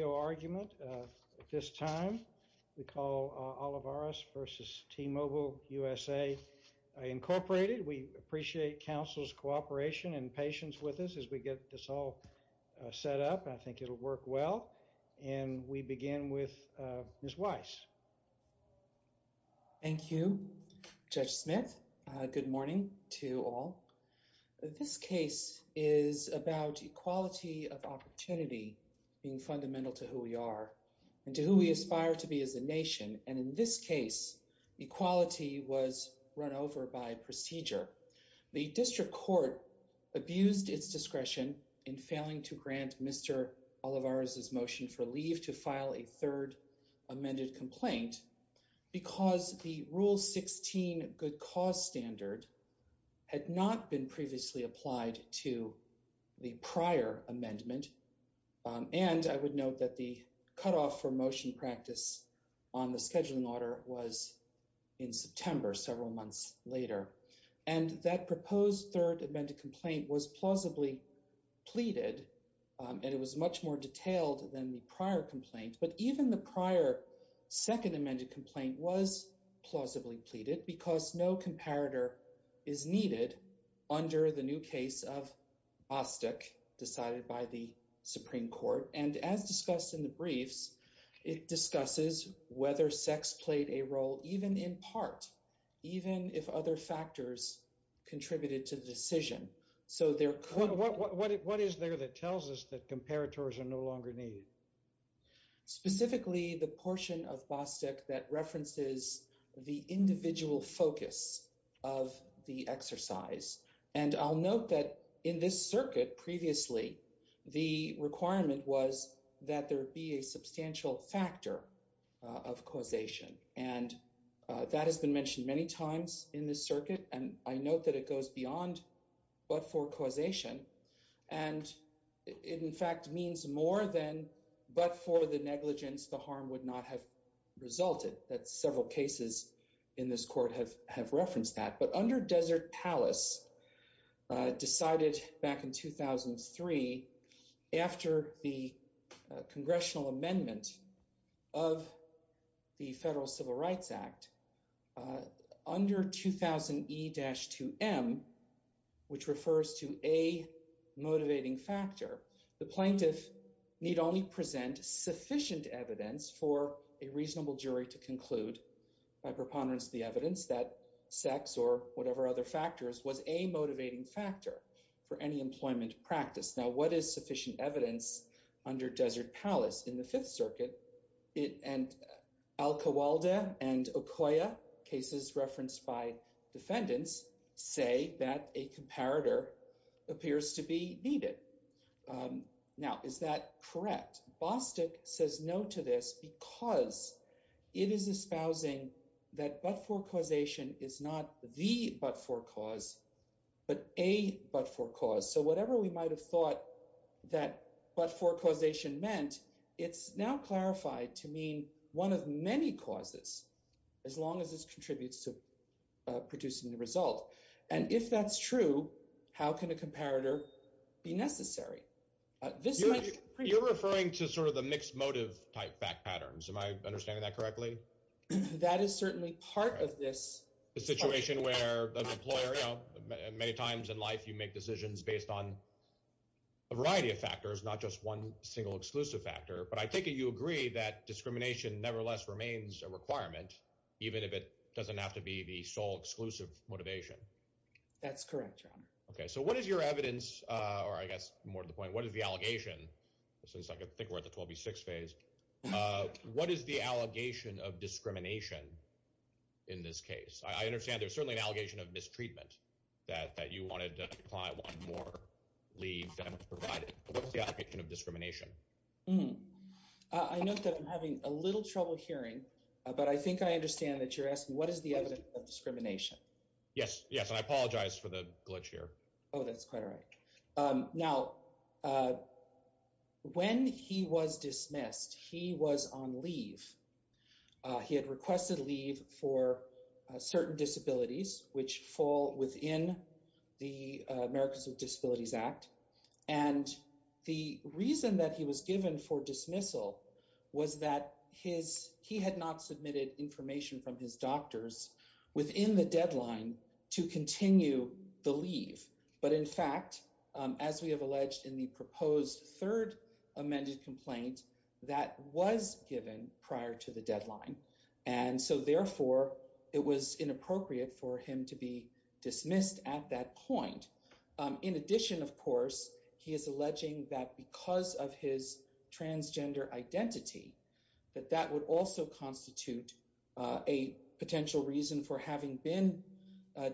argument at this time. We call Olivarez v. T-Mobile USA Incorporated. We appreciate counsel's cooperation and patience with us as we get this all set up. I think it'll work well and we begin with Ms. Weiss. Thank you, Judge Smith. Good morning to all. This case is about equality of opportunity being fundamental to who we are and to who we aspire to be as a nation. And in this case, equality was run over by procedure. The District Court abused its discretion in failing to grant Mr. Olivarez's motion for leave to file a third amended complaint because the Rule 16 good cause standard had not been previously applied to the prior amendment. And I would note that the cutoff for motion practice on the scheduling order was in September, several months later. And that proposed third amended complaint was plausibly pleaded and it was much more detailed than the prior complaint. But even the prior second amended complaint was plausibly pleaded because no comparator is needed under the new case of Bostick, decided by the Supreme Court. And as discussed in the briefs, it discusses whether sex played a role, even in part, even if other factors contributed to the decision. So there could... What is there that tells us that comparators are no longer needed? Specifically, the the exercise. And I'll note that in this circuit, previously, the requirement was that there be a substantial factor of causation. And that has been mentioned many times in this circuit. And I note that it goes beyond but for causation. And it in fact means more than but for the negligence, the harm would not have under Desert Palace, decided back in 2003, after the Congressional Amendment of the Federal Civil Rights Act, under 2000 E-2M, which refers to a motivating factor, the plaintiff need only present sufficient evidence for a whatever other factors was a motivating factor for any employment practice. Now what is sufficient evidence under Desert Palace in the Fifth Circuit? And Al Kowalda and Okoye, cases referenced by defendants, say that a comparator appears to be needed. Now, is that correct? Bostick says no to this because it is espousing that but for causation is not the but for cause, but a but for cause. So whatever we might have thought that but for causation meant, it's now clarified to mean one of many causes, as long as this contributes to producing the result. And if that's true, how can a comparator be necessary? You're referring to sort of the mixed motive type back patterns. Am I understanding that correctly? That is certainly part of this. A situation where an employer, you know, many times in life you make decisions based on a variety of factors, not just one single exclusive factor, but I take it you agree that discrimination nevertheless remains a requirement, even if it doesn't have to be the sole exclusive motivation. That's correct, Your Honor. Okay, so what is your point? What is the allegation, since I think we're at the 12B6 phase, what is the allegation of discrimination in this case? I understand there's certainly an allegation of mistreatment, that you wanted to apply one more lead than was provided, but what's the allegation of discrimination? I note that I'm having a little trouble hearing, but I think I understand that you're asking what is the evidence of discrimination? Yes, yes, and I apologize for the glitch here. Oh, that's quite all right. Now, when he was dismissed, he was on leave. He had requested leave for certain disabilities, which fall within the Americans with Disabilities Act, and the reason that he was given for dismissal was that he had not submitted information from his doctors within the deadline to continue the leave, but in fact, as we have alleged in the proposed third amended complaint, that was given prior to the deadline, and so therefore it was inappropriate for him to be dismissed at that point. In addition, of course, he is alleging that because of his transgender identity, that that would also constitute a potential reason for having been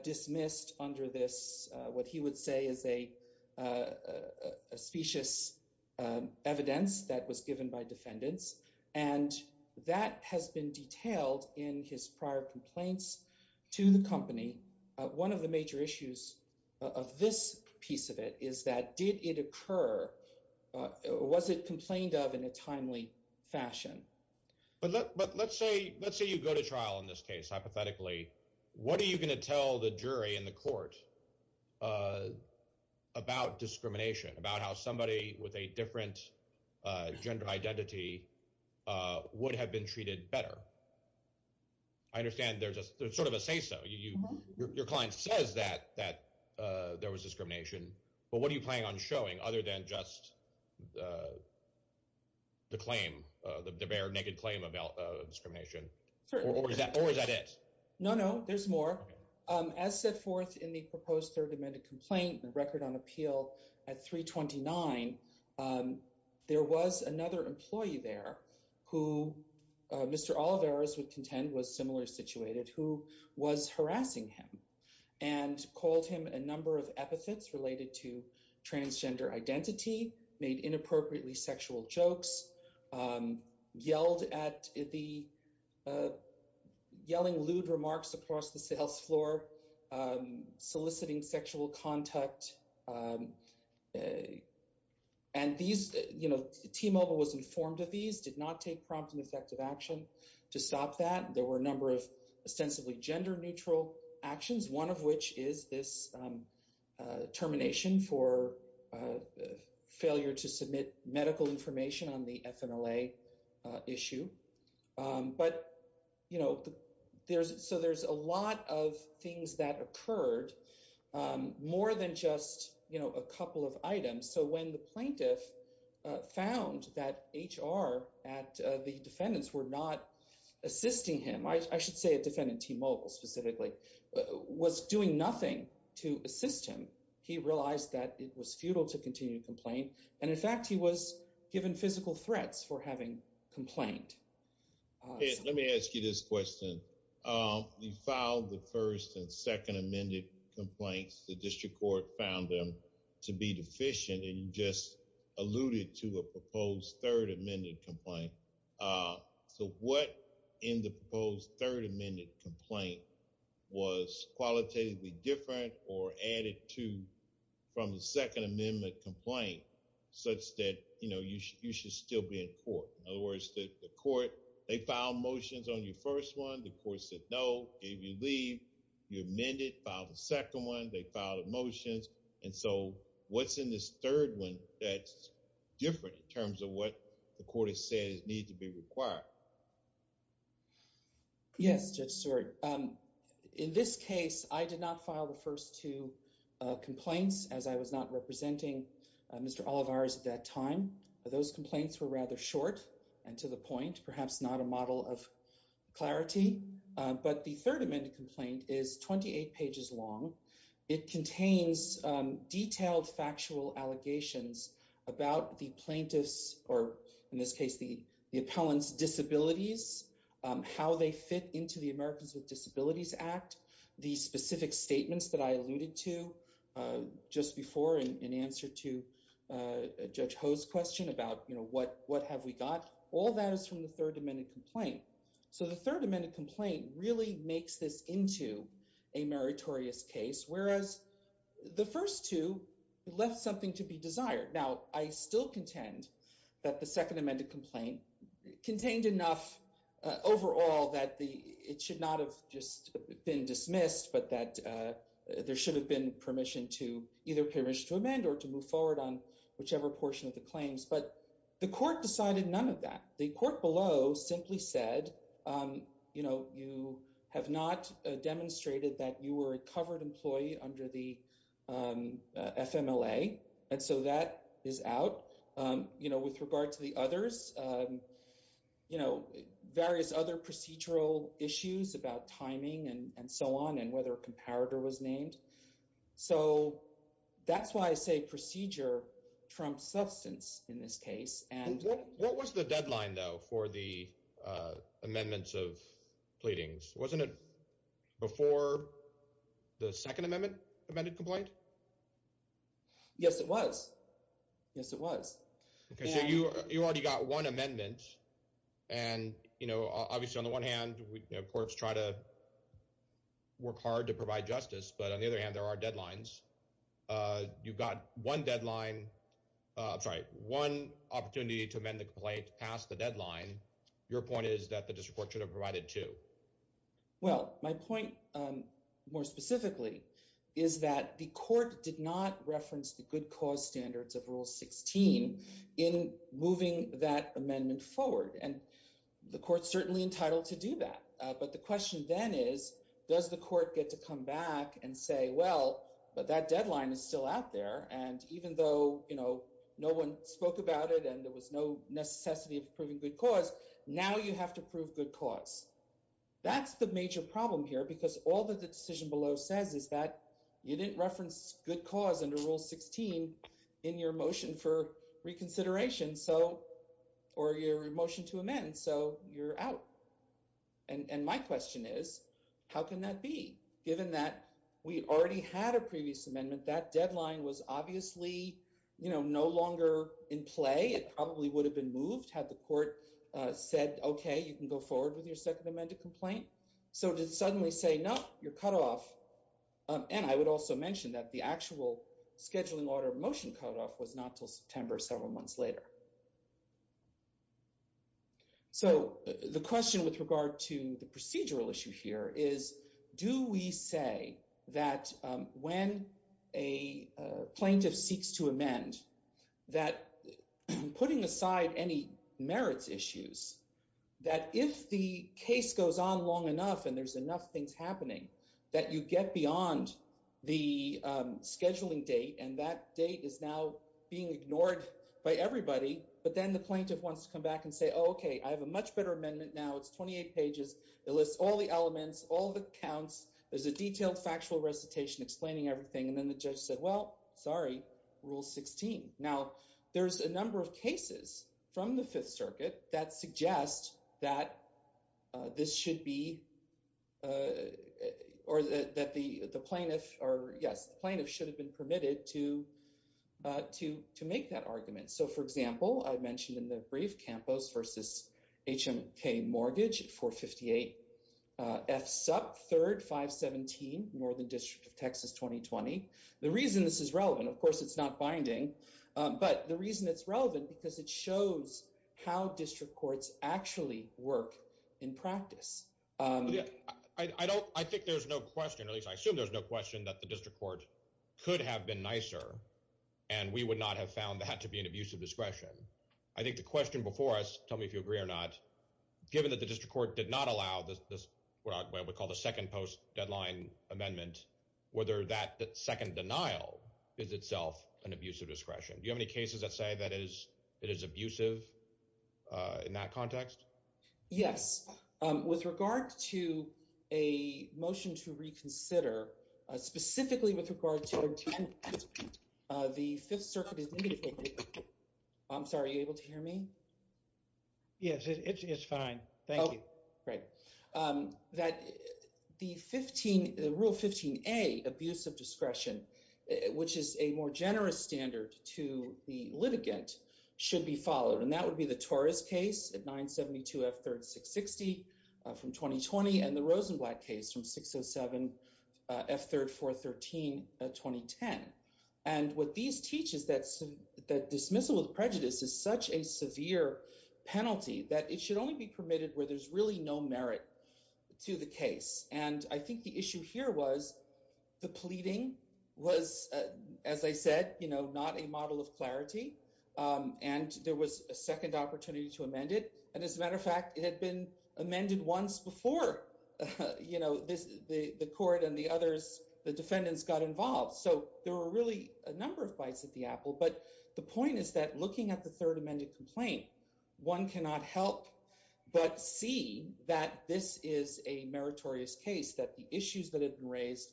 dismissed under this, what he would say is a specious evidence that was given by defendants, and that has been detailed in his prior complaints to the company. One of the major issues of this piece of it is that did it occur, was it complained of in a timely fashion? But let's say you go to trial in this case, hypothetically, what are you going to tell the jury in the court about discrimination, about how somebody with a different gender identity would have been treated better? I understand there's a sort of a say-so. Your client says that there was discrimination, but what are you planning on showing other than just the claim, the bare, naked claim about discrimination? Or is that it? No, no, there's more. As set forth in the proposed third amended complaint, the record on appeal at 329, there was another employee there who Mr. Olivares would contend was similarly situated, who was harassing him and called him a number of epithets related to transgender identity, made inappropriately sexual jokes, yelled at the yelling lewd remarks across the sales floor, soliciting sexual contact. And these, you know, T-Mobile was informed of these, did not take prompt and effective action to stop that. There were a number of ostensibly gender-neutral actions, one of which is this termination for failure to submit medical information on the FNLA issue. But, you know, there's, so there's a lot of things that occurred, more than just, you know, a couple of items. So when the plaintiff found that HR at the defendants were not assisting him, I was doing nothing to assist him, he realized that it was futile to continue to complain. And in fact, he was given physical threats for having complained. Let me ask you this question. You filed the first and second amended complaints, the district court found them to be deficient, and you just alluded to a proposed third amended complaint. So what in the proposed third amended complaint was qualitatively different or added to from the second amendment complaint, such that, you know, you should still be in court? In other words, the court, they filed motions on your first one, the court said no, gave you leave, you amended, filed a second one, they filed motions. And so what's in this third one that's different in terms of what the court has said needs to be required? Yes, Judge Stewart. In this case, I did not file the first two complaints as I was not representing Mr. Olivares at that time. Those complaints were rather short and to the point, perhaps not a model of clarity. But the third amended complaint is 28 pages long. It contains detailed factual allegations about the appellant's disabilities, how they fit into the Americans with Disabilities Act, the specific statements that I alluded to just before in answer to Judge Ho's question about, you know, what have we got, all that is from the third amended complaint. So the third amended complaint really makes this into a meritorious case, whereas the first two left something to be desired. Now, I still contend that the second amended complaint contained enough overall that it should not have just been dismissed, but that there should have been permission to, either permission to amend or to move forward on whichever portion of the claims. But the court decided none of that. The court below simply said, you know, you have not demonstrated that you were a covered employee under the FMLA. And so that is out. You know, with regard to the others, you know, various other procedural issues about timing and so on and whether a comparator was named. So that's why I say procedure trumps substance in this case. What was the deadline, though, for the amendments of pleadings? Wasn't it before the second amendment amended complaint? Yes, it was. Yes, it was. Okay, so you already got one amendment and, you know, obviously on the one hand, courts try to work hard to provide justice, but on the other hand, there are deadlines. You've got one deadline, sorry, one opportunity to amend the complaint past the deadline. Your point is that the district court should have provided two. Well, my point more specifically is that the court did not reference the good cause standards of Rule 16 in moving that amendment forward. And the court's certainly entitled to do that. But the question then is, does the court get to come back and say, well, but that deadline is still out there. And even though, you know, no one spoke about it and there was no necessity of proving good cause, now you have to prove good cause. That's the major problem here, because all that the decision below says is that you didn't reference good cause under Rule 16 in your motion for reconsideration, so, or your motion to amend, so you're out. And my question is, how can that be? Given that we already had a previous amendment, that deadline was obviously, you know, no longer in play. It probably would have been moved had the court said, okay, you can go forward with your second amended complaint. So to suddenly say, no, you're cut off. And I would also mention that the actual scheduling order motion cut off was not till September, several months later. So the question with regard to the procedural issue here is, do we say that when a plaintiff seeks to amend, that putting aside any merits issues, that if the case goes on long enough and there's enough things happening, that you get beyond the scheduling date and that date is now being ignored by everybody, but then the plaintiff wants to come back and say, okay, I have a much better amendment now. It's 28 pages. It lists all the elements, all the counts. There's a detailed factual recitation explaining everything. And then the judge said, well, sorry, Rule 16. Now there's a number of cases from the Fifth Circuit that suggest that this should be, or that the plaintiff, or yes, the plaintiff should have been permitted to make that argument. So for me, I think that's up third, 517, Northern District of Texas 2020. The reason this is relevant, of course, it's not binding, but the reason it's relevant because it shows how district courts actually work in practice. I don't, I think there's no question, at least I assume there's no question, that the district court could have been nicer and we would not have found that to be an abuse of discretion. I think the question before us, tell me if you agree or not, given that the court called a second post-deadline amendment, whether that second denial is itself an abuse of discretion. Do you have any cases that say that it is abusive in that context? Yes. With regard to a motion to reconsider, specifically with regard to attendance, the Fifth Circuit is negative. I'm sorry, are you able to hear me? Yes, it's fine. Thank you. Great. That the 15, the Rule 15a, abuse of discretion, which is a more generous standard to the litigant, should be followed, and that would be the Torres case at 972 F3rd 660 from 2020 and the Rosenblatt case from 607 F3rd 413 2010. And what these teach is that dismissal of prejudice is such a severe penalty that it should only be permitted where there's really no merit to the case. And I think the issue here was the pleading was, as I said, you know, not a model of clarity. And there was a second opportunity to amend it. And as a matter of fact, it had been amended once before, you know, the court and the others, the defendants got involved. So there were really a number of bites at the apple. But the point is that looking at the Third Amendment complaint, one cannot help but see that this is a meritorious case that the issues that have been raised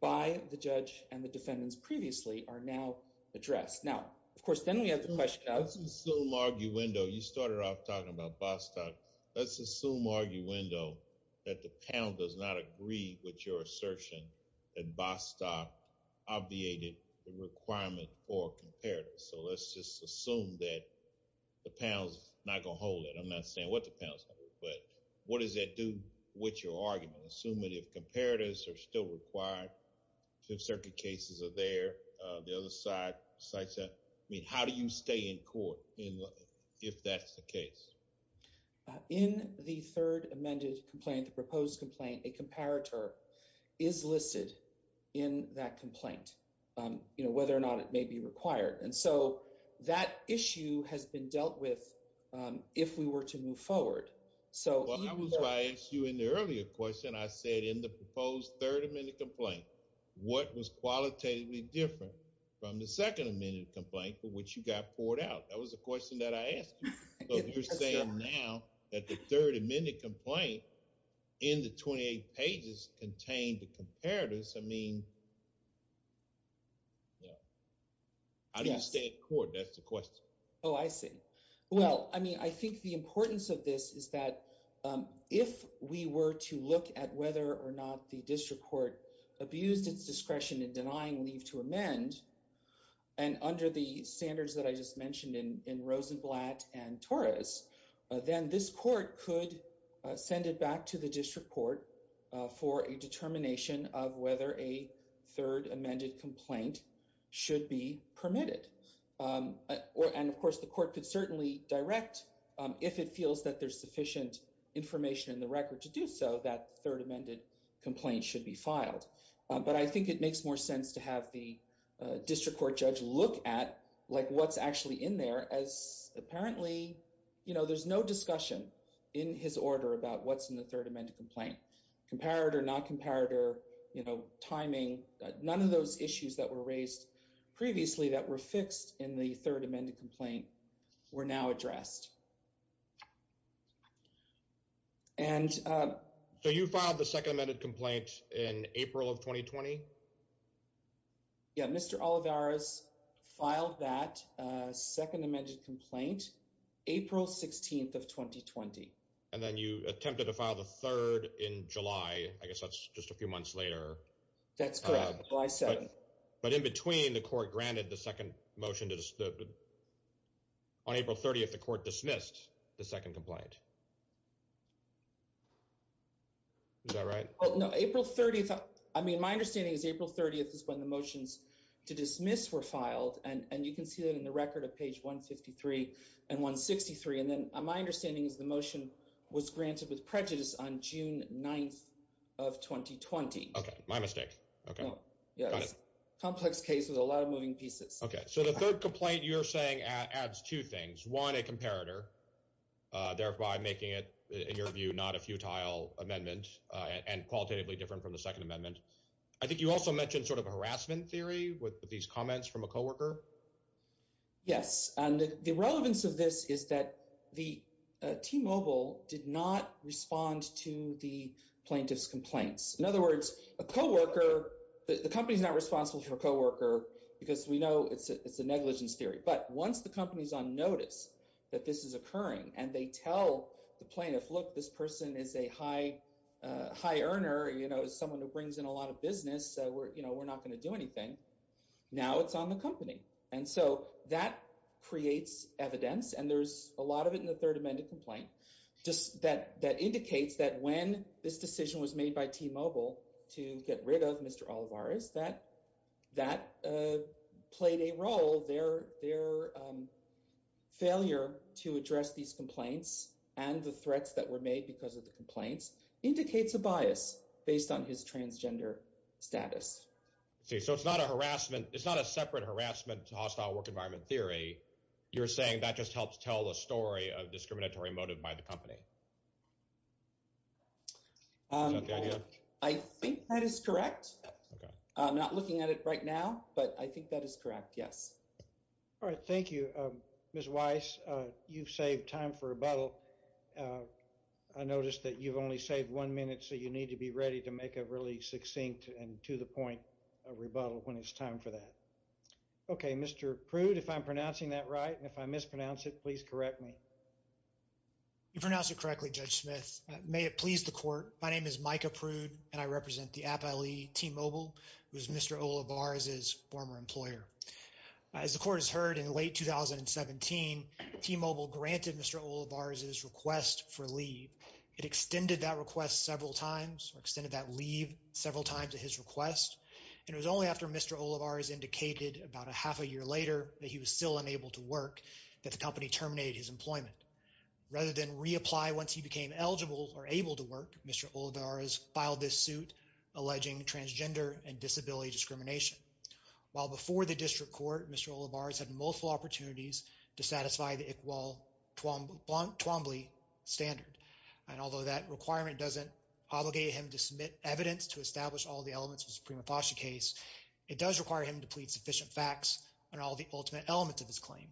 by the judge and the defendants previously are now addressed. Now, of course, then we have the question of let's assume arguendo. You started off talking about Bostock. Let's assume arguendo that the panel does not agree with your assertion that Bostock obviated the requirement for comparatives. So let's just assume that the panel's not going to hold it. I'm not saying what the panel's going to do, but what does that do with your argument? Assuming if comparatives are still required, Fifth Circuit cases are there, the other side cites that. I mean, how do you stay in court if that's the case? In the Third Amendment complaint, the third amendment complaint in the 28 pages contained the comparatives. I mean, how do you stay in court? That's the question. Oh, I see. Well, I mean, I think the importance of this is that if we were to look at whether or not the district court abused its discretion in denying leave to amend, and under the standards that I just mentioned in Rosenblatt and Torres, then this court could send it back to the district court for a determination of whether a third amended complaint should be permitted. And of course, the court could certainly direct, if it feels that there's sufficient information in the record to do so, that third amended complaint should be filed. But I think it makes more sense to have the district court judge look at what's actually in there as apparently, you know, there's no discussion in his order about what's in the third amended complaint. Comparator, not comparator, you know, timing, none of those issues that were raised previously that were fixed in the third amended complaint were now addressed. And... So you filed the second amended complaint in April of 2020? Yeah, Mr. Olivares filed that second amended complaint April 16th of 2020. And then you attempted to file the third in July. I guess that's just a few months later. That's correct, July 7th. But in between, the court granted the second motion to... On April 30th, the court dismissed the second complaint. Is that right? Well, no, April 30th. I mean, my understanding is April 30th is when the motions to dismiss were filed. And you can see that in the record of page 153 and 163. And then my understanding is the motion was granted with prejudice on June 9th of 2020. Okay, my mistake. Okay. Yeah, it's a complex case with a lot of moving pieces. Okay, so the third complaint you're saying adds two things. One, a comparator, thereby making it, in your view, not a futile amendment and qualitatively different from the second amendment. I think you also mentioned sort of harassment theory with these comments from a co-worker. Yes, and the relevance of this is that the T-Mobile did not respond to the plaintiff's complaints. In other words, a co-worker, the company's not responsible for a co-worker because we know it's a negligence theory. But once the company's on notice that this is occurring and they tell the plaintiff, look, this person is a high earner, you know, someone who brings in a lot of business, you know, we're not going to do anything. Now it's on the company. And so that creates evidence. And there's a lot of it in the third amended complaint that indicates that when this decision was made by T-Mobile to get rid of Mr. Olivares, that played a role. Their failure to address these complaints and the threats that were made because of the complaints indicates a bias based on his transgender status. So it's not a harassment, it's not a separate harassment hostile work environment theory. You're saying that just helps tell the story of discriminatory motive by the company. I think that is correct. I'm not looking at it right now, but I think that is correct. Yes. All right. Thank you. Ms. Weiss, you've saved time for rebuttal. I noticed that you've only saved one minute, so you need to be ready to make a really succinct and to the point rebuttal when it's time for that. Okay. Mr. Prude, if I'm pronouncing that right, and if I mispronounce it, please correct me. You've pronounced it correctly, Judge Smith. May it please the court, my name is Micah Prude, and I represent the Appliee T-Mobile, who is Mr. Olivares' former employer. As the court has heard, in late 2017, T-Mobile granted Mr. Olivares' request for leave. It extended that request several times or extended that leave several times at his request, and it was only after Mr. Olivares indicated about a half a year later that he was still unable to work that the company terminated his employment. Rather than reapply once he became eligible or able to work, Mr. Olivares filed this suit alleging transgender and disability discrimination. While before the district court, Mr. Olivares had multiple opportunities to satisfy the Iqbal Twombly standard, and although that requirement doesn't obligate him to submit evidence to establish all the elements of the Suprema Fascia case, it does require him to plead sufficient facts on all the ultimate elements of his claim.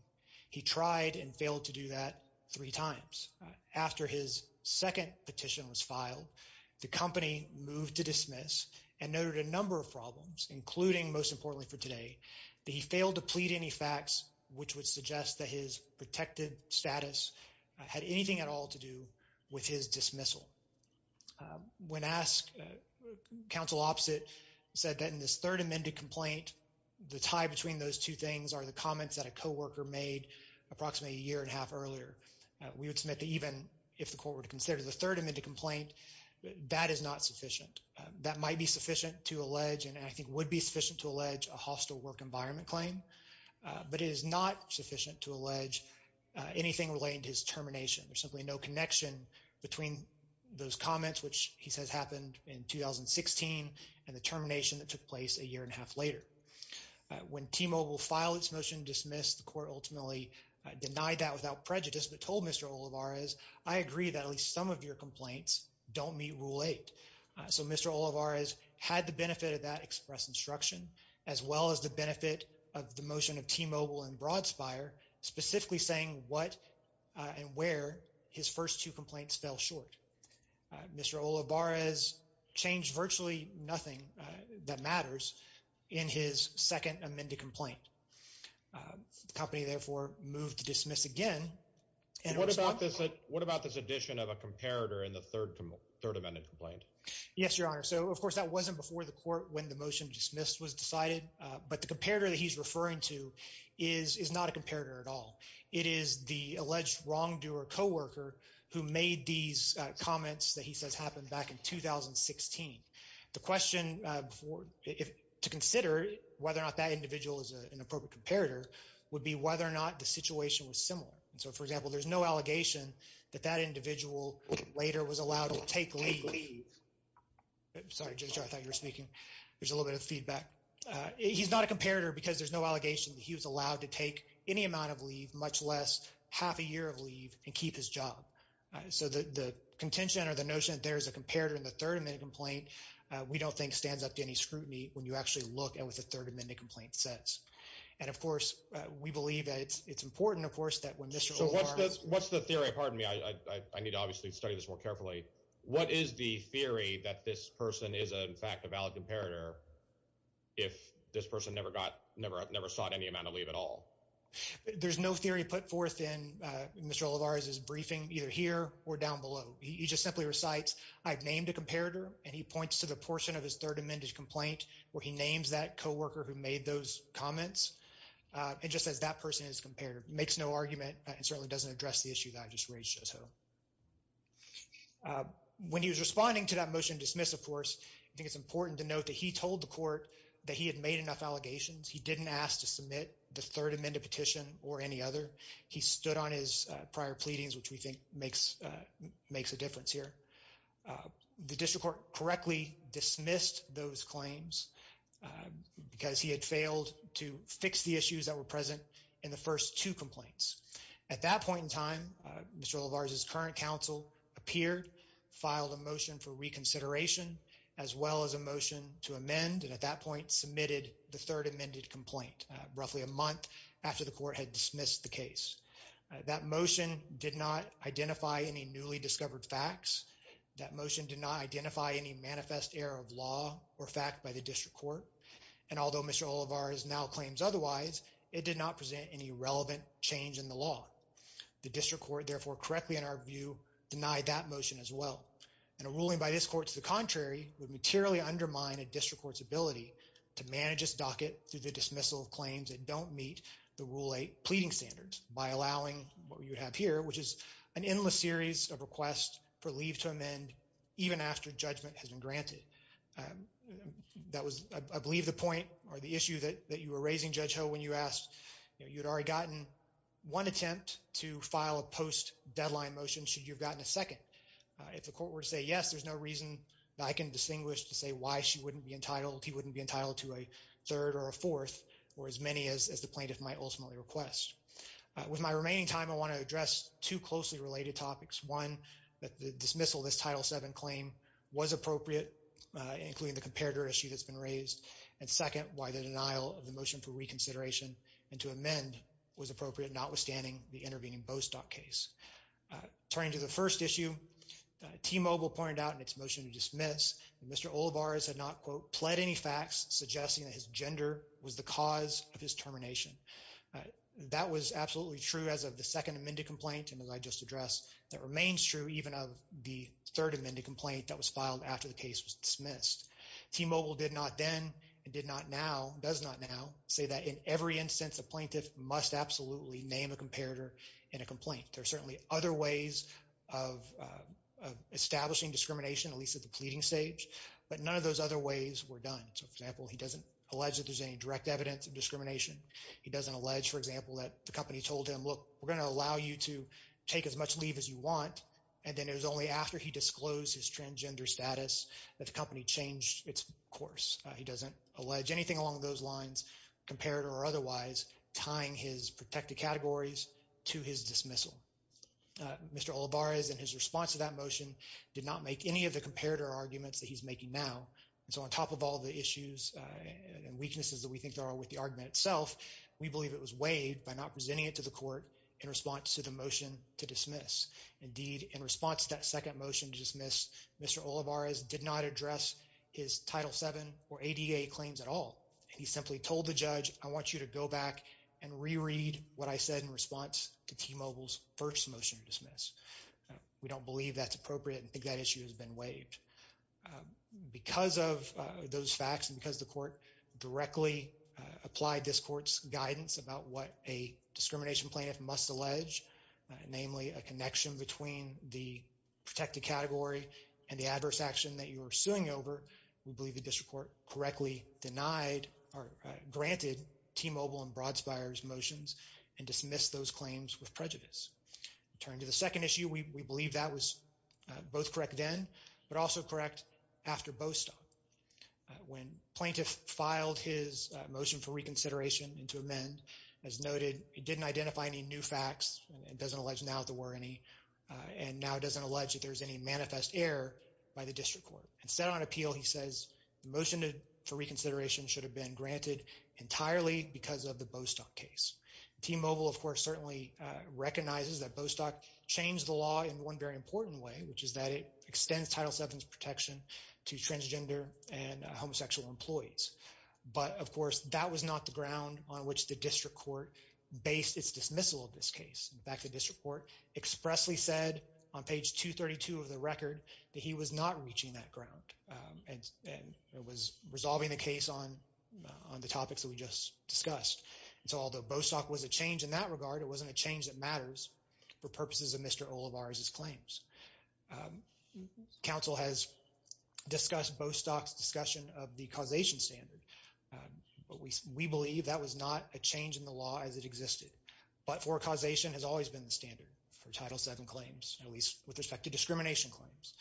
He tried and failed to do that three times. After his second petition was filed, the company moved to dismiss and noted a number of problems, including, most importantly for today, that he failed to plead any facts which would suggest that his protected status had anything at all to do with his dismissal. When asked, counsel opposite said that in this third amended complaint, the tie between those two things are the comments that a co-worker made approximately a year and a half earlier. We would submit that even if the court were to consider the third amended complaint, that is not sufficient. That might be sufficient to allege, and I think would be sufficient to allege, a hostile work environment claim, but it is not sufficient to allege anything relating to his termination. There's simply no connection between those comments, which he says happened in 2016, and the termination that took place a year and a half later. When T-Mobile filed its motion to dismiss, the court ultimately denied that without prejudice, but told Mr. Olivares, I agree that at least some of your complaints don't meet Rule 8. So Mr. Olivares had the benefit of that express instruction, as well as the benefit of the motion of T-Mobile and Broadspire, specifically saying what and where his first two complaints fell Mr. Olivares changed virtually nothing that matters in his second amended complaint. The company therefore moved to dismiss again. What about this addition of a comparator in the third amended complaint? Yes, your honor. So of course that wasn't before the court when the motion dismissed was decided, but the comparator that he's referring to is not a comparator at all. It is the alleged wrongdoer co-worker who made these comments that he says happened back in 2016. The question to consider whether or not that individual is an appropriate comparator would be whether or not the situation was similar. So for example, there's no allegation that that individual later was allowed to take leave. Sorry, Judge, I thought you were speaking. There's a little bit of feedback. He's not a comparator because there's no allegation that he was allowed to take any amount of leave, much less half a year of leave, and keep his job. So the contention or the notion that there is a comparator in the third amendment complaint we don't think stands up to any scrutiny when you actually look at what the third amendment complaint says. And of course we believe that it's important of course that when Mr. Olivares... So what's the theory? Pardon me, I need to obviously study this more carefully. What is the theory that this person is in fact a valid comparator if this person never sought any amount of leave at all? There's no theory put forth in Mr. Olivares' briefing, either here or down below. He just simply recites, I've named a comparator, and he points to the portion of his third amended complaint where he names that co-worker who made those comments. It just says that person is a comparator. Makes no argument and certainly doesn't address the issue that I just raised, Judge Ho. When he was responding to that motion to dismiss, of course, I think it's important to note that he told the court that he had made enough allegations. He didn't ask to submit the third amended petition or any other. He stood on his prior pleadings, which we think makes a difference here. The district court correctly dismissed those claims because he had failed to fix the issues that were present in the first two complaints. At that point in time, Mr. Olivares' current counsel appeared, filed a motion for reconsideration, as well as a motion to amend, and at that point, submitted the third amended complaint roughly a month after the court had dismissed the case. That motion did not identify any newly discovered facts. That motion did not identify any manifest error of law or fact by the district court, and although Mr. Olivares now claims otherwise, it did not present any relevant change in the law. The district court, therefore, correctly, in our view, denied that motion as well, and a ruling by this court to the contrary would materially undermine a district court's ability to manage its docket through the dismissal of claims that don't meet the Rule 8 pleading standards by allowing what you have here, which is an endless series of requests for leave to amend even after judgment has been granted. That was, I believe, the point or the issue that you were raising, Judge Ho, when you asked, you had already gotten one attempt to file a post-deadline motion, should you have gotten a second. If the court were to say yes, there's no reason that I can distinguish to say why she wouldn't be entitled, he wouldn't be entitled to a third or a fourth, or as many as the plaintiff might ultimately request. With my remaining time, I want to address two closely related topics. One, that the dismissal of this Title 7 claim was appropriate, including the comparator issue that's been raised, and second, why the denial of the motion for reconsideration and to amend was appropriate, notwithstanding the intervening Bostock case. Turning to the first issue, T-Mobile pointed out in its motion to dismiss that Mr. Olivares had not, quote, pled any facts suggesting that his gender was the cause of his termination. That was absolutely true as of the second amended complaint, and as I just addressed, that remains true even of the third amended complaint that was filed after the case was dismissed. The plaintiff did not then and did not now, does not now, say that in every instance, a plaintiff must absolutely name a comparator in a complaint. There are certainly other ways of establishing discrimination, at least at the pleading stage, but none of those other ways were done. So, for example, he doesn't allege that there's any direct evidence of discrimination. He doesn't allege, for example, that the company told him, look, we're going to allow you to take as much leave as you want, and then it was only after he disclosed his transgender status that the company changed its course. He doesn't allege anything along those lines, comparator or otherwise, tying his protected categories to his dismissal. Mr. Olivares, in his response to that motion, did not make any of the comparator arguments that he's making now, and so on top of all the issues and weaknesses that we think there are with the argument itself, we believe it was waived by not presenting it to the court in response to the motion to dismiss. Indeed, in response to that second motion to dismiss, Mr. Olivares did not address his Title VII or ADA claims at all. He simply told the judge, I want you to go back and re-read what I said in response to T-Mobile's first motion to dismiss. We don't believe that's appropriate and think that issue has been waived. Because of those facts and because the court directly applied this court's guidance about what a discrimination plaintiff must allege, namely a connection between the protected category and the adverse action that you are suing over, we believe the district court correctly denied or granted T-Mobile and Broadspire's motions and dismissed those claims with prejudice. Turning to the second issue, we believe that was both correct then but also correct after Bostock. When plaintiff filed his motion for reconsideration to amend, as noted, it didn't identify any new facts. It doesn't allege now that there were any. And now it doesn't allege that there's any manifest error by the district court. Instead on appeal, he says the motion for reconsideration should have been granted entirely because of the Bostock case. T-Mobile, of course, certainly recognizes that Bostock changed the law in one very important way, which is that it extends Title VII's was not the ground on which the district court based its dismissal of this case. In fact, the district court expressly said on page 232 of the record that he was not reaching that ground and was resolving the case on the topics that we just discussed. So although Bostock was a change in that regard, it wasn't a change that matters for purposes of Mr. Olivares' claims. Council has discussed Bostock's discussion of the causation standard, but we believe that was not a change in the law as it existed. But-for causation has always been the standard for Title VII claims, at least with respect to discrimination claims.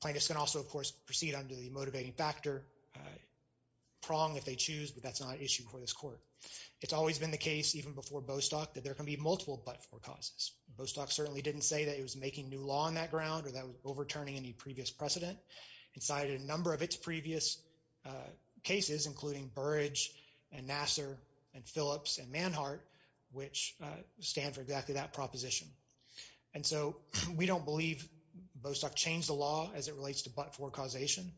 Plaintiffs can also, of course, proceed under the motivating factor prong if they choose, but that's not an issue for this court. It's always been the case, even before Bostock, that there can be multiple but-for causes. Bostock certainly didn't say that it was making new law on that ground or that it was overturning any previous precedent. It cited a number of its previous cases, including Burrage and Nassar and Phillips and Manhart, which stand for exactly that proposition. And so we don't believe Bostock changed the law as it relates to but-for causation.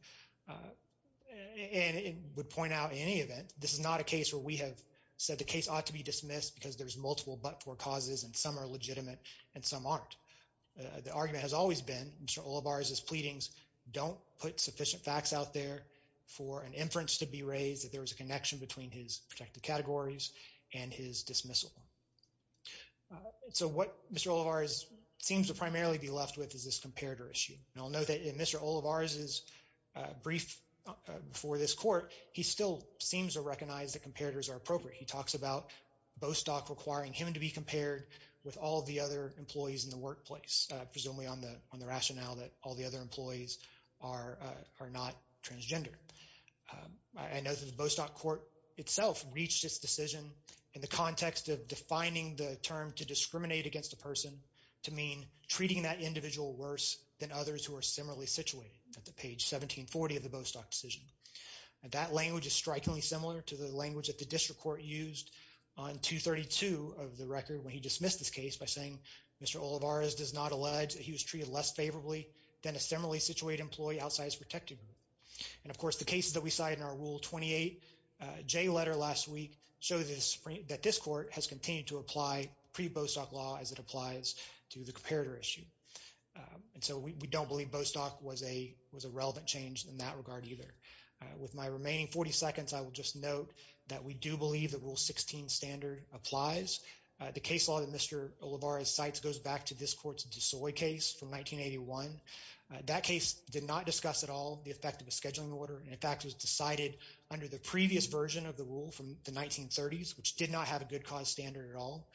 And it would point out in any event, this is not a case where we have said the case ought to be dismissed because there's multiple but-for causes and some are legitimate and some aren't. The argument has always been Mr. Olivares' pleadings don't put sufficient facts out there for an inference to be raised that there was a connection between his protected categories and his dismissal. So what Mr. Olivares seems to primarily be left with is this comparator issue. And I'll note that in Mr. Olivares' brief before this court, he still seems to recognize that comparators are appropriate. He talks about Bostock requiring him to be paired with all the other employees in the workplace, presumably on the rationale that all the other employees are not transgender. I know that the Bostock court itself reached this decision in the context of defining the term to discriminate against a person to mean treating that individual worse than others who are similarly situated at the page 1740 of the Bostock decision. That language is strikingly similar to the language that the district court used on 232 of the record when he dismissed this case by saying Mr. Olivares does not allege that he was treated less favorably than a similarly situated employee outside his protected group. And of course the cases that we cited in our Rule 28J letter last week show that this court has continued to apply pre-Bostock law as it applies to the comparator issue. And so we don't believe Bostock was a relevant change in that regard either. With my remaining 40 seconds, I will just note that we do believe that Rule 16 standard applies. The case law that Mr. Olivares cites goes back to this court's DeSoy case from 1981. That case did not discuss at all the effect of a scheduling order and in fact was decided under the previous version of the rule from the 1930s which did not have a good cause standard at all.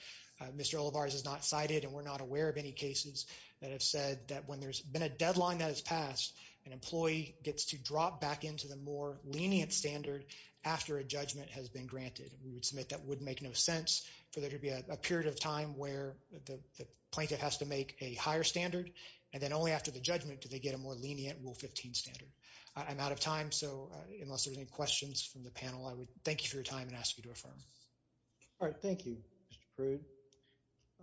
Mr. Olivares has not cited and we're not aware of any cases that have said that when there's been a deadline that has passed, an employee gets to drop back into the more lenient standard after a judgment has been granted. We would submit that would make no sense for there to be a period of time where the plaintiff has to make a higher standard and then only after the judgment do they get a more lenient Rule 15 standard. I'm out of time so unless there's any questions from the panel, I would thank you for your time and ask you to affirm. All right, thank you Mr. Prude.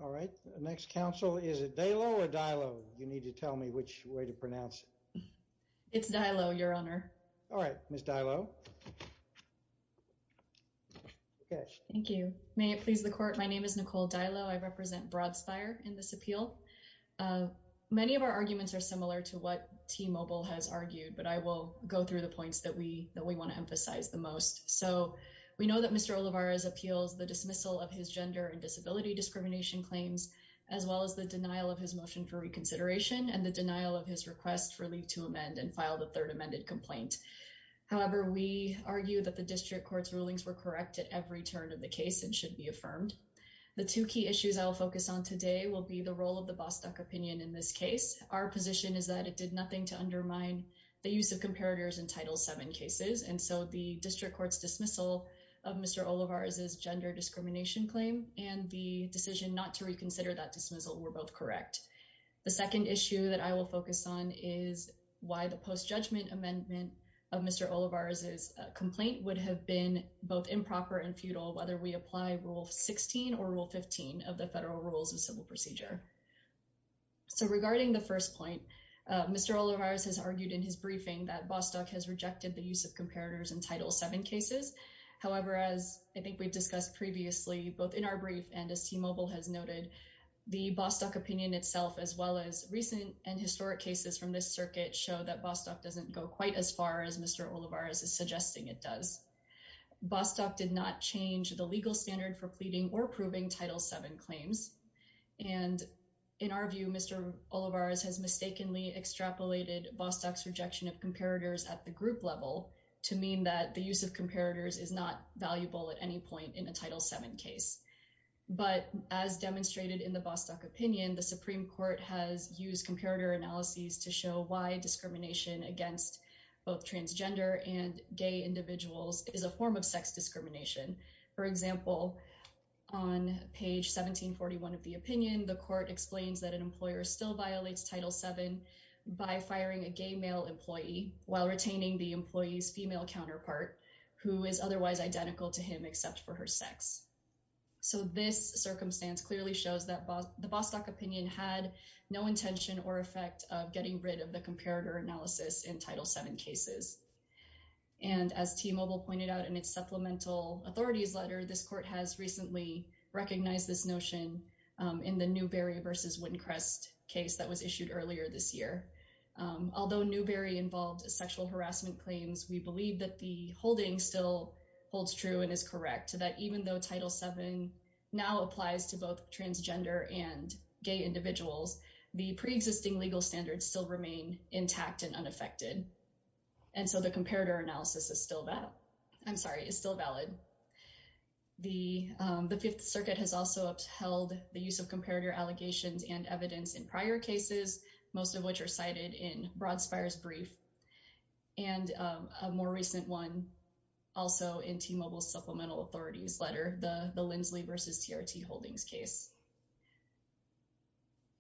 All right, next counsel is it Daylow or Dylow? You need to tell me which way to pronounce it. It's Dylow, your honor. All right, Ms. Dylow. Thank you. May it please the court, my name is Nicole Dylow. I represent Broad Spire in this appeal. Many of our arguments are similar to what T-Mobile has argued but I will go through the points that we that we want to emphasize the most. So we know that Mr. Olivares appeals the dismissal of his gender and disability discrimination claims as well as the denial of his motion for reconsideration and the denial of his request for leave to amend and file the third amended complaint. However, we argue that the district court's rulings were correct at every turn of the case and should be affirmed. The two key issues I'll focus on today will be the role of the Bostock opinion in this case. Our position is that it did nothing to undermine the use of comparators in Title VII cases and so the district court's dismissal of Mr. Olivares's gender discrimination claim and the decision not to reconsider that dismissal were both correct. The second issue that I will focus on is why the post-judgment amendment of Mr. Olivares's complaint would have been both improper and futile whether we apply Rule 16 or Rule 15 of the federal rules of civil procedure. So regarding the first point, Mr. Olivares has argued in his briefing that Bostock has the use of comparators in Title VII cases. However, as I think we've discussed previously, both in our brief and as T-Mobile has noted, the Bostock opinion itself as well as recent and historic cases from this circuit show that Bostock doesn't go quite as far as Mr. Olivares is suggesting it does. Bostock did not change the legal standard for pleading or approving Title VII claims and in our view, Mr. Olivares has mistakenly extrapolated Bostock's rejection of comparators at the group level to mean that the use of comparators is not valuable at any point in a Title VII case. But as demonstrated in the Bostock opinion, the Supreme Court has used comparator analyses to show why discrimination against both transgender and gay individuals is a form of sex discrimination. For example, on page 1741 of the opinion, the court explains that an while retaining the employee's female counterpart who is otherwise identical to him except for her sex. So this circumstance clearly shows that the Bostock opinion had no intention or effect of getting rid of the comparator analysis in Title VII cases. And as T-Mobile pointed out in its supplemental authorities letter, this court has recently recognized this notion in the Newbery versus Wincrest case that was issued earlier this year. Although Newbery involved sexual harassment claims, we believe that the holding still holds true and is correct that even though Title VII now applies to both transgender and gay individuals, the pre-existing legal standards still remain intact and unaffected. And so the comparator analysis is still valid. The Fifth Circuit has also upheld the use of comparator allegations and evidence in prior cases, most of which are cited in Broadspire's brief and a more recent one also in T-Mobile's supplemental authorities letter, the Lindsley versus TRT Holdings case.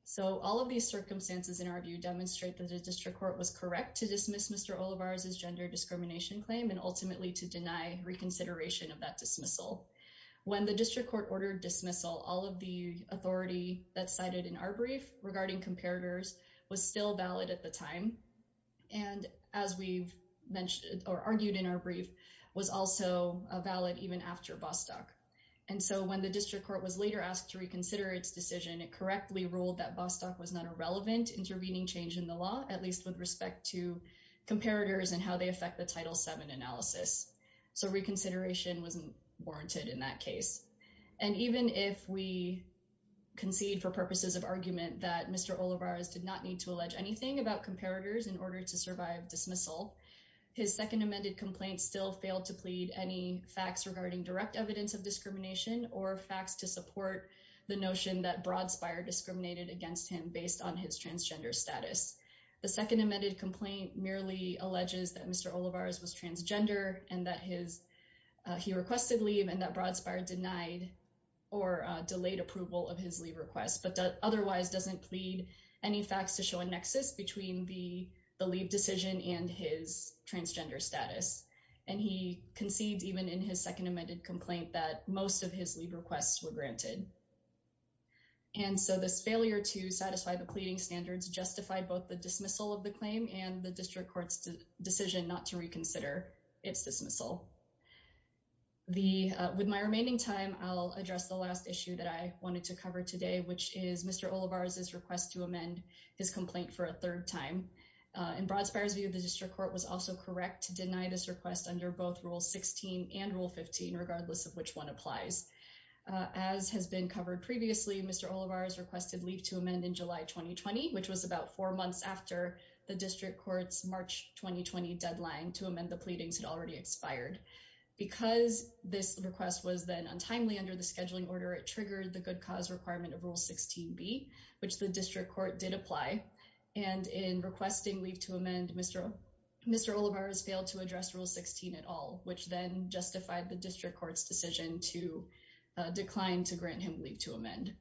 So all of these circumstances in our view demonstrate that the district court was correct to dismiss Mr. Olivares' gender discrimination claim and ultimately to deny reconsideration of the dismissal. When the district court ordered dismissal, all of the authority that's cited in our brief regarding comparators was still valid at the time. And as we've mentioned or argued in our brief, was also valid even after Bostock. And so when the district court was later asked to reconsider its decision, it correctly ruled that Bostock was not a relevant intervening change in the law, at least with respect to comparators and how they affect the Title VII analysis. So reconsideration wasn't warranted in that case. And even if we concede for purposes of argument that Mr. Olivares did not need to allege anything about comparators in order to survive dismissal, his second amended complaint still failed to plead any facts regarding direct evidence of discrimination or facts to support the notion that Broadspire discriminated against him based on his transgender status. The second amended complaint merely alleges that Mr. Olivares was that he requested leave and that Broadspire denied or delayed approval of his leave request, but otherwise doesn't plead any facts to show a nexus between the leave decision and his transgender status. And he conceded even in his second amended complaint that most of his leave requests were granted. And so this failure to satisfy the pleading standards justified both dismissal of the claim and the District Court's decision not to reconsider its dismissal. With my remaining time, I'll address the last issue that I wanted to cover today, which is Mr. Olivares' request to amend his complaint for a third time. In Broadspire's view, the District Court was also correct to deny this request under both Rule 16 and Rule 15, regardless of which one applies. As has been covered previously, Mr. Olivares requested leave to amend in July 2020, which was about four months after the District Court's March 2020 deadline to amend the pleadings had already expired. Because this request was then untimely under the scheduling order, it triggered the good cause requirement of Rule 16b, which the District Court did apply. And in requesting leave to amend, Mr. Olivares failed to address Rule 16 at all, which then justified the District Court's to decline to grant him leave to amend.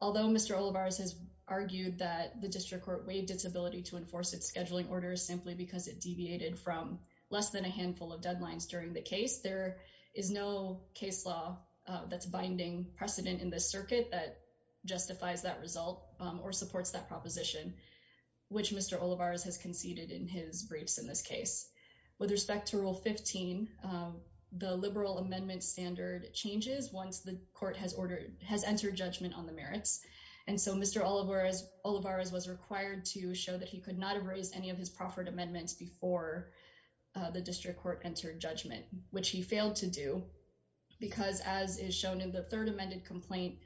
Although Mr. Olivares has argued that the District Court waived its ability to enforce its scheduling orders simply because it deviated from less than a handful of deadlines during the case, there is no case law that's binding precedent in this circuit that justifies that result or supports that proposition, which Mr. Olivares has conceded in his briefs in this case. With respect to Rule 15, the liberal amendment standard changes once the court has entered judgment on the merits. And so Mr. Olivares was required to show that he could not have raised any of his proffered amendments before the District Court entered judgment, which he failed to do because, as is shown in the third amended complaint,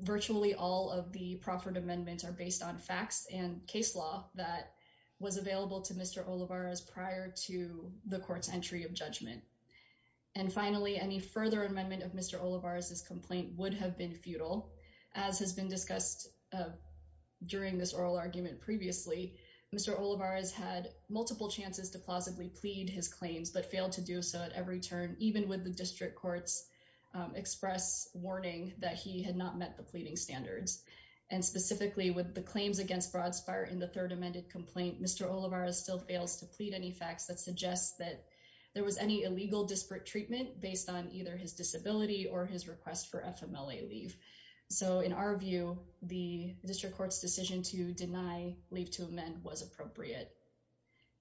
virtually all of the proffered amendments are based on facts and case law that was available to Mr. Olivares prior to the court's entry of judgment. And finally, any further amendment of Mr. Olivares' complaint would have been futile. As has been discussed during this oral argument previously, Mr. Olivares had multiple chances to plausibly plead his claims but failed to do so at every turn, even with the District Court's express warning that he had not met the pleading standards. And specifically with the claims against Broadspire in the third amended complaint, Mr. Olivares still fails to plead any facts that suggest that there was any illegal disparate treatment based on either his disability or his request for FMLA leave. So in our view, the District Court's deny leave to amend was appropriate.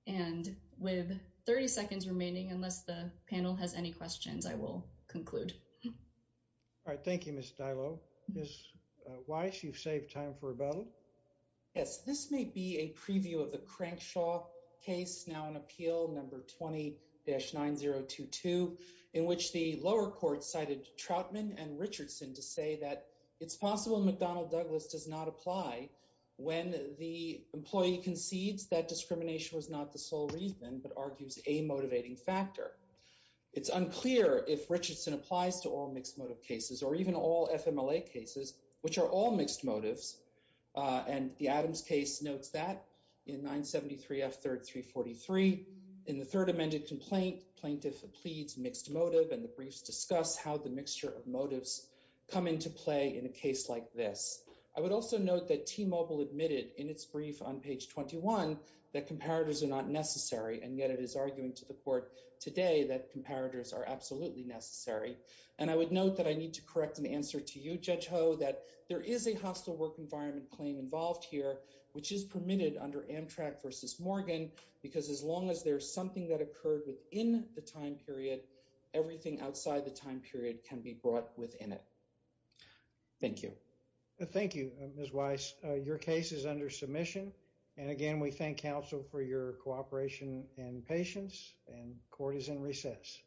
And with 30 seconds remaining, unless the panel has any questions, I will conclude. All right, thank you, Ms. Dylo. Ms. Weiss, you've saved time for rebuttal. Yes, this may be a preview of the Crankshaw case now in appeal, number 20-9022, in which the lower court cited Troutman and Richardson to say that it's possible McDonnell Douglas does not apply when the employee concedes that discrimination was not the sole reason but argues a motivating factor. It's unclear if Richardson applies to all mixed motive cases or even all FMLA cases which are all mixed motives. And the Adams case notes that in 973 F. 3rd 343, in the third amended complaint, plaintiff pleads mixed motive and the briefs discuss how the mixture of motives come into play in a case like this. I would also note that T-Mobile admitted in its brief on page 21 that comparators are not necessary and yet it is arguing to the court today that comparators are absolutely necessary. And I would note that I need to correct an answer to you, Judge Ho, that there is a hostile work environment claim involved here which is permitted under Amtrak v. Morgan because as long as there's something that occurred within the time period, everything outside the time period can be brought within it. Thank you. Thank you, Ms. Weiss. Your case is under submission and again we thank counsel for your cooperation and patience and court is in recess.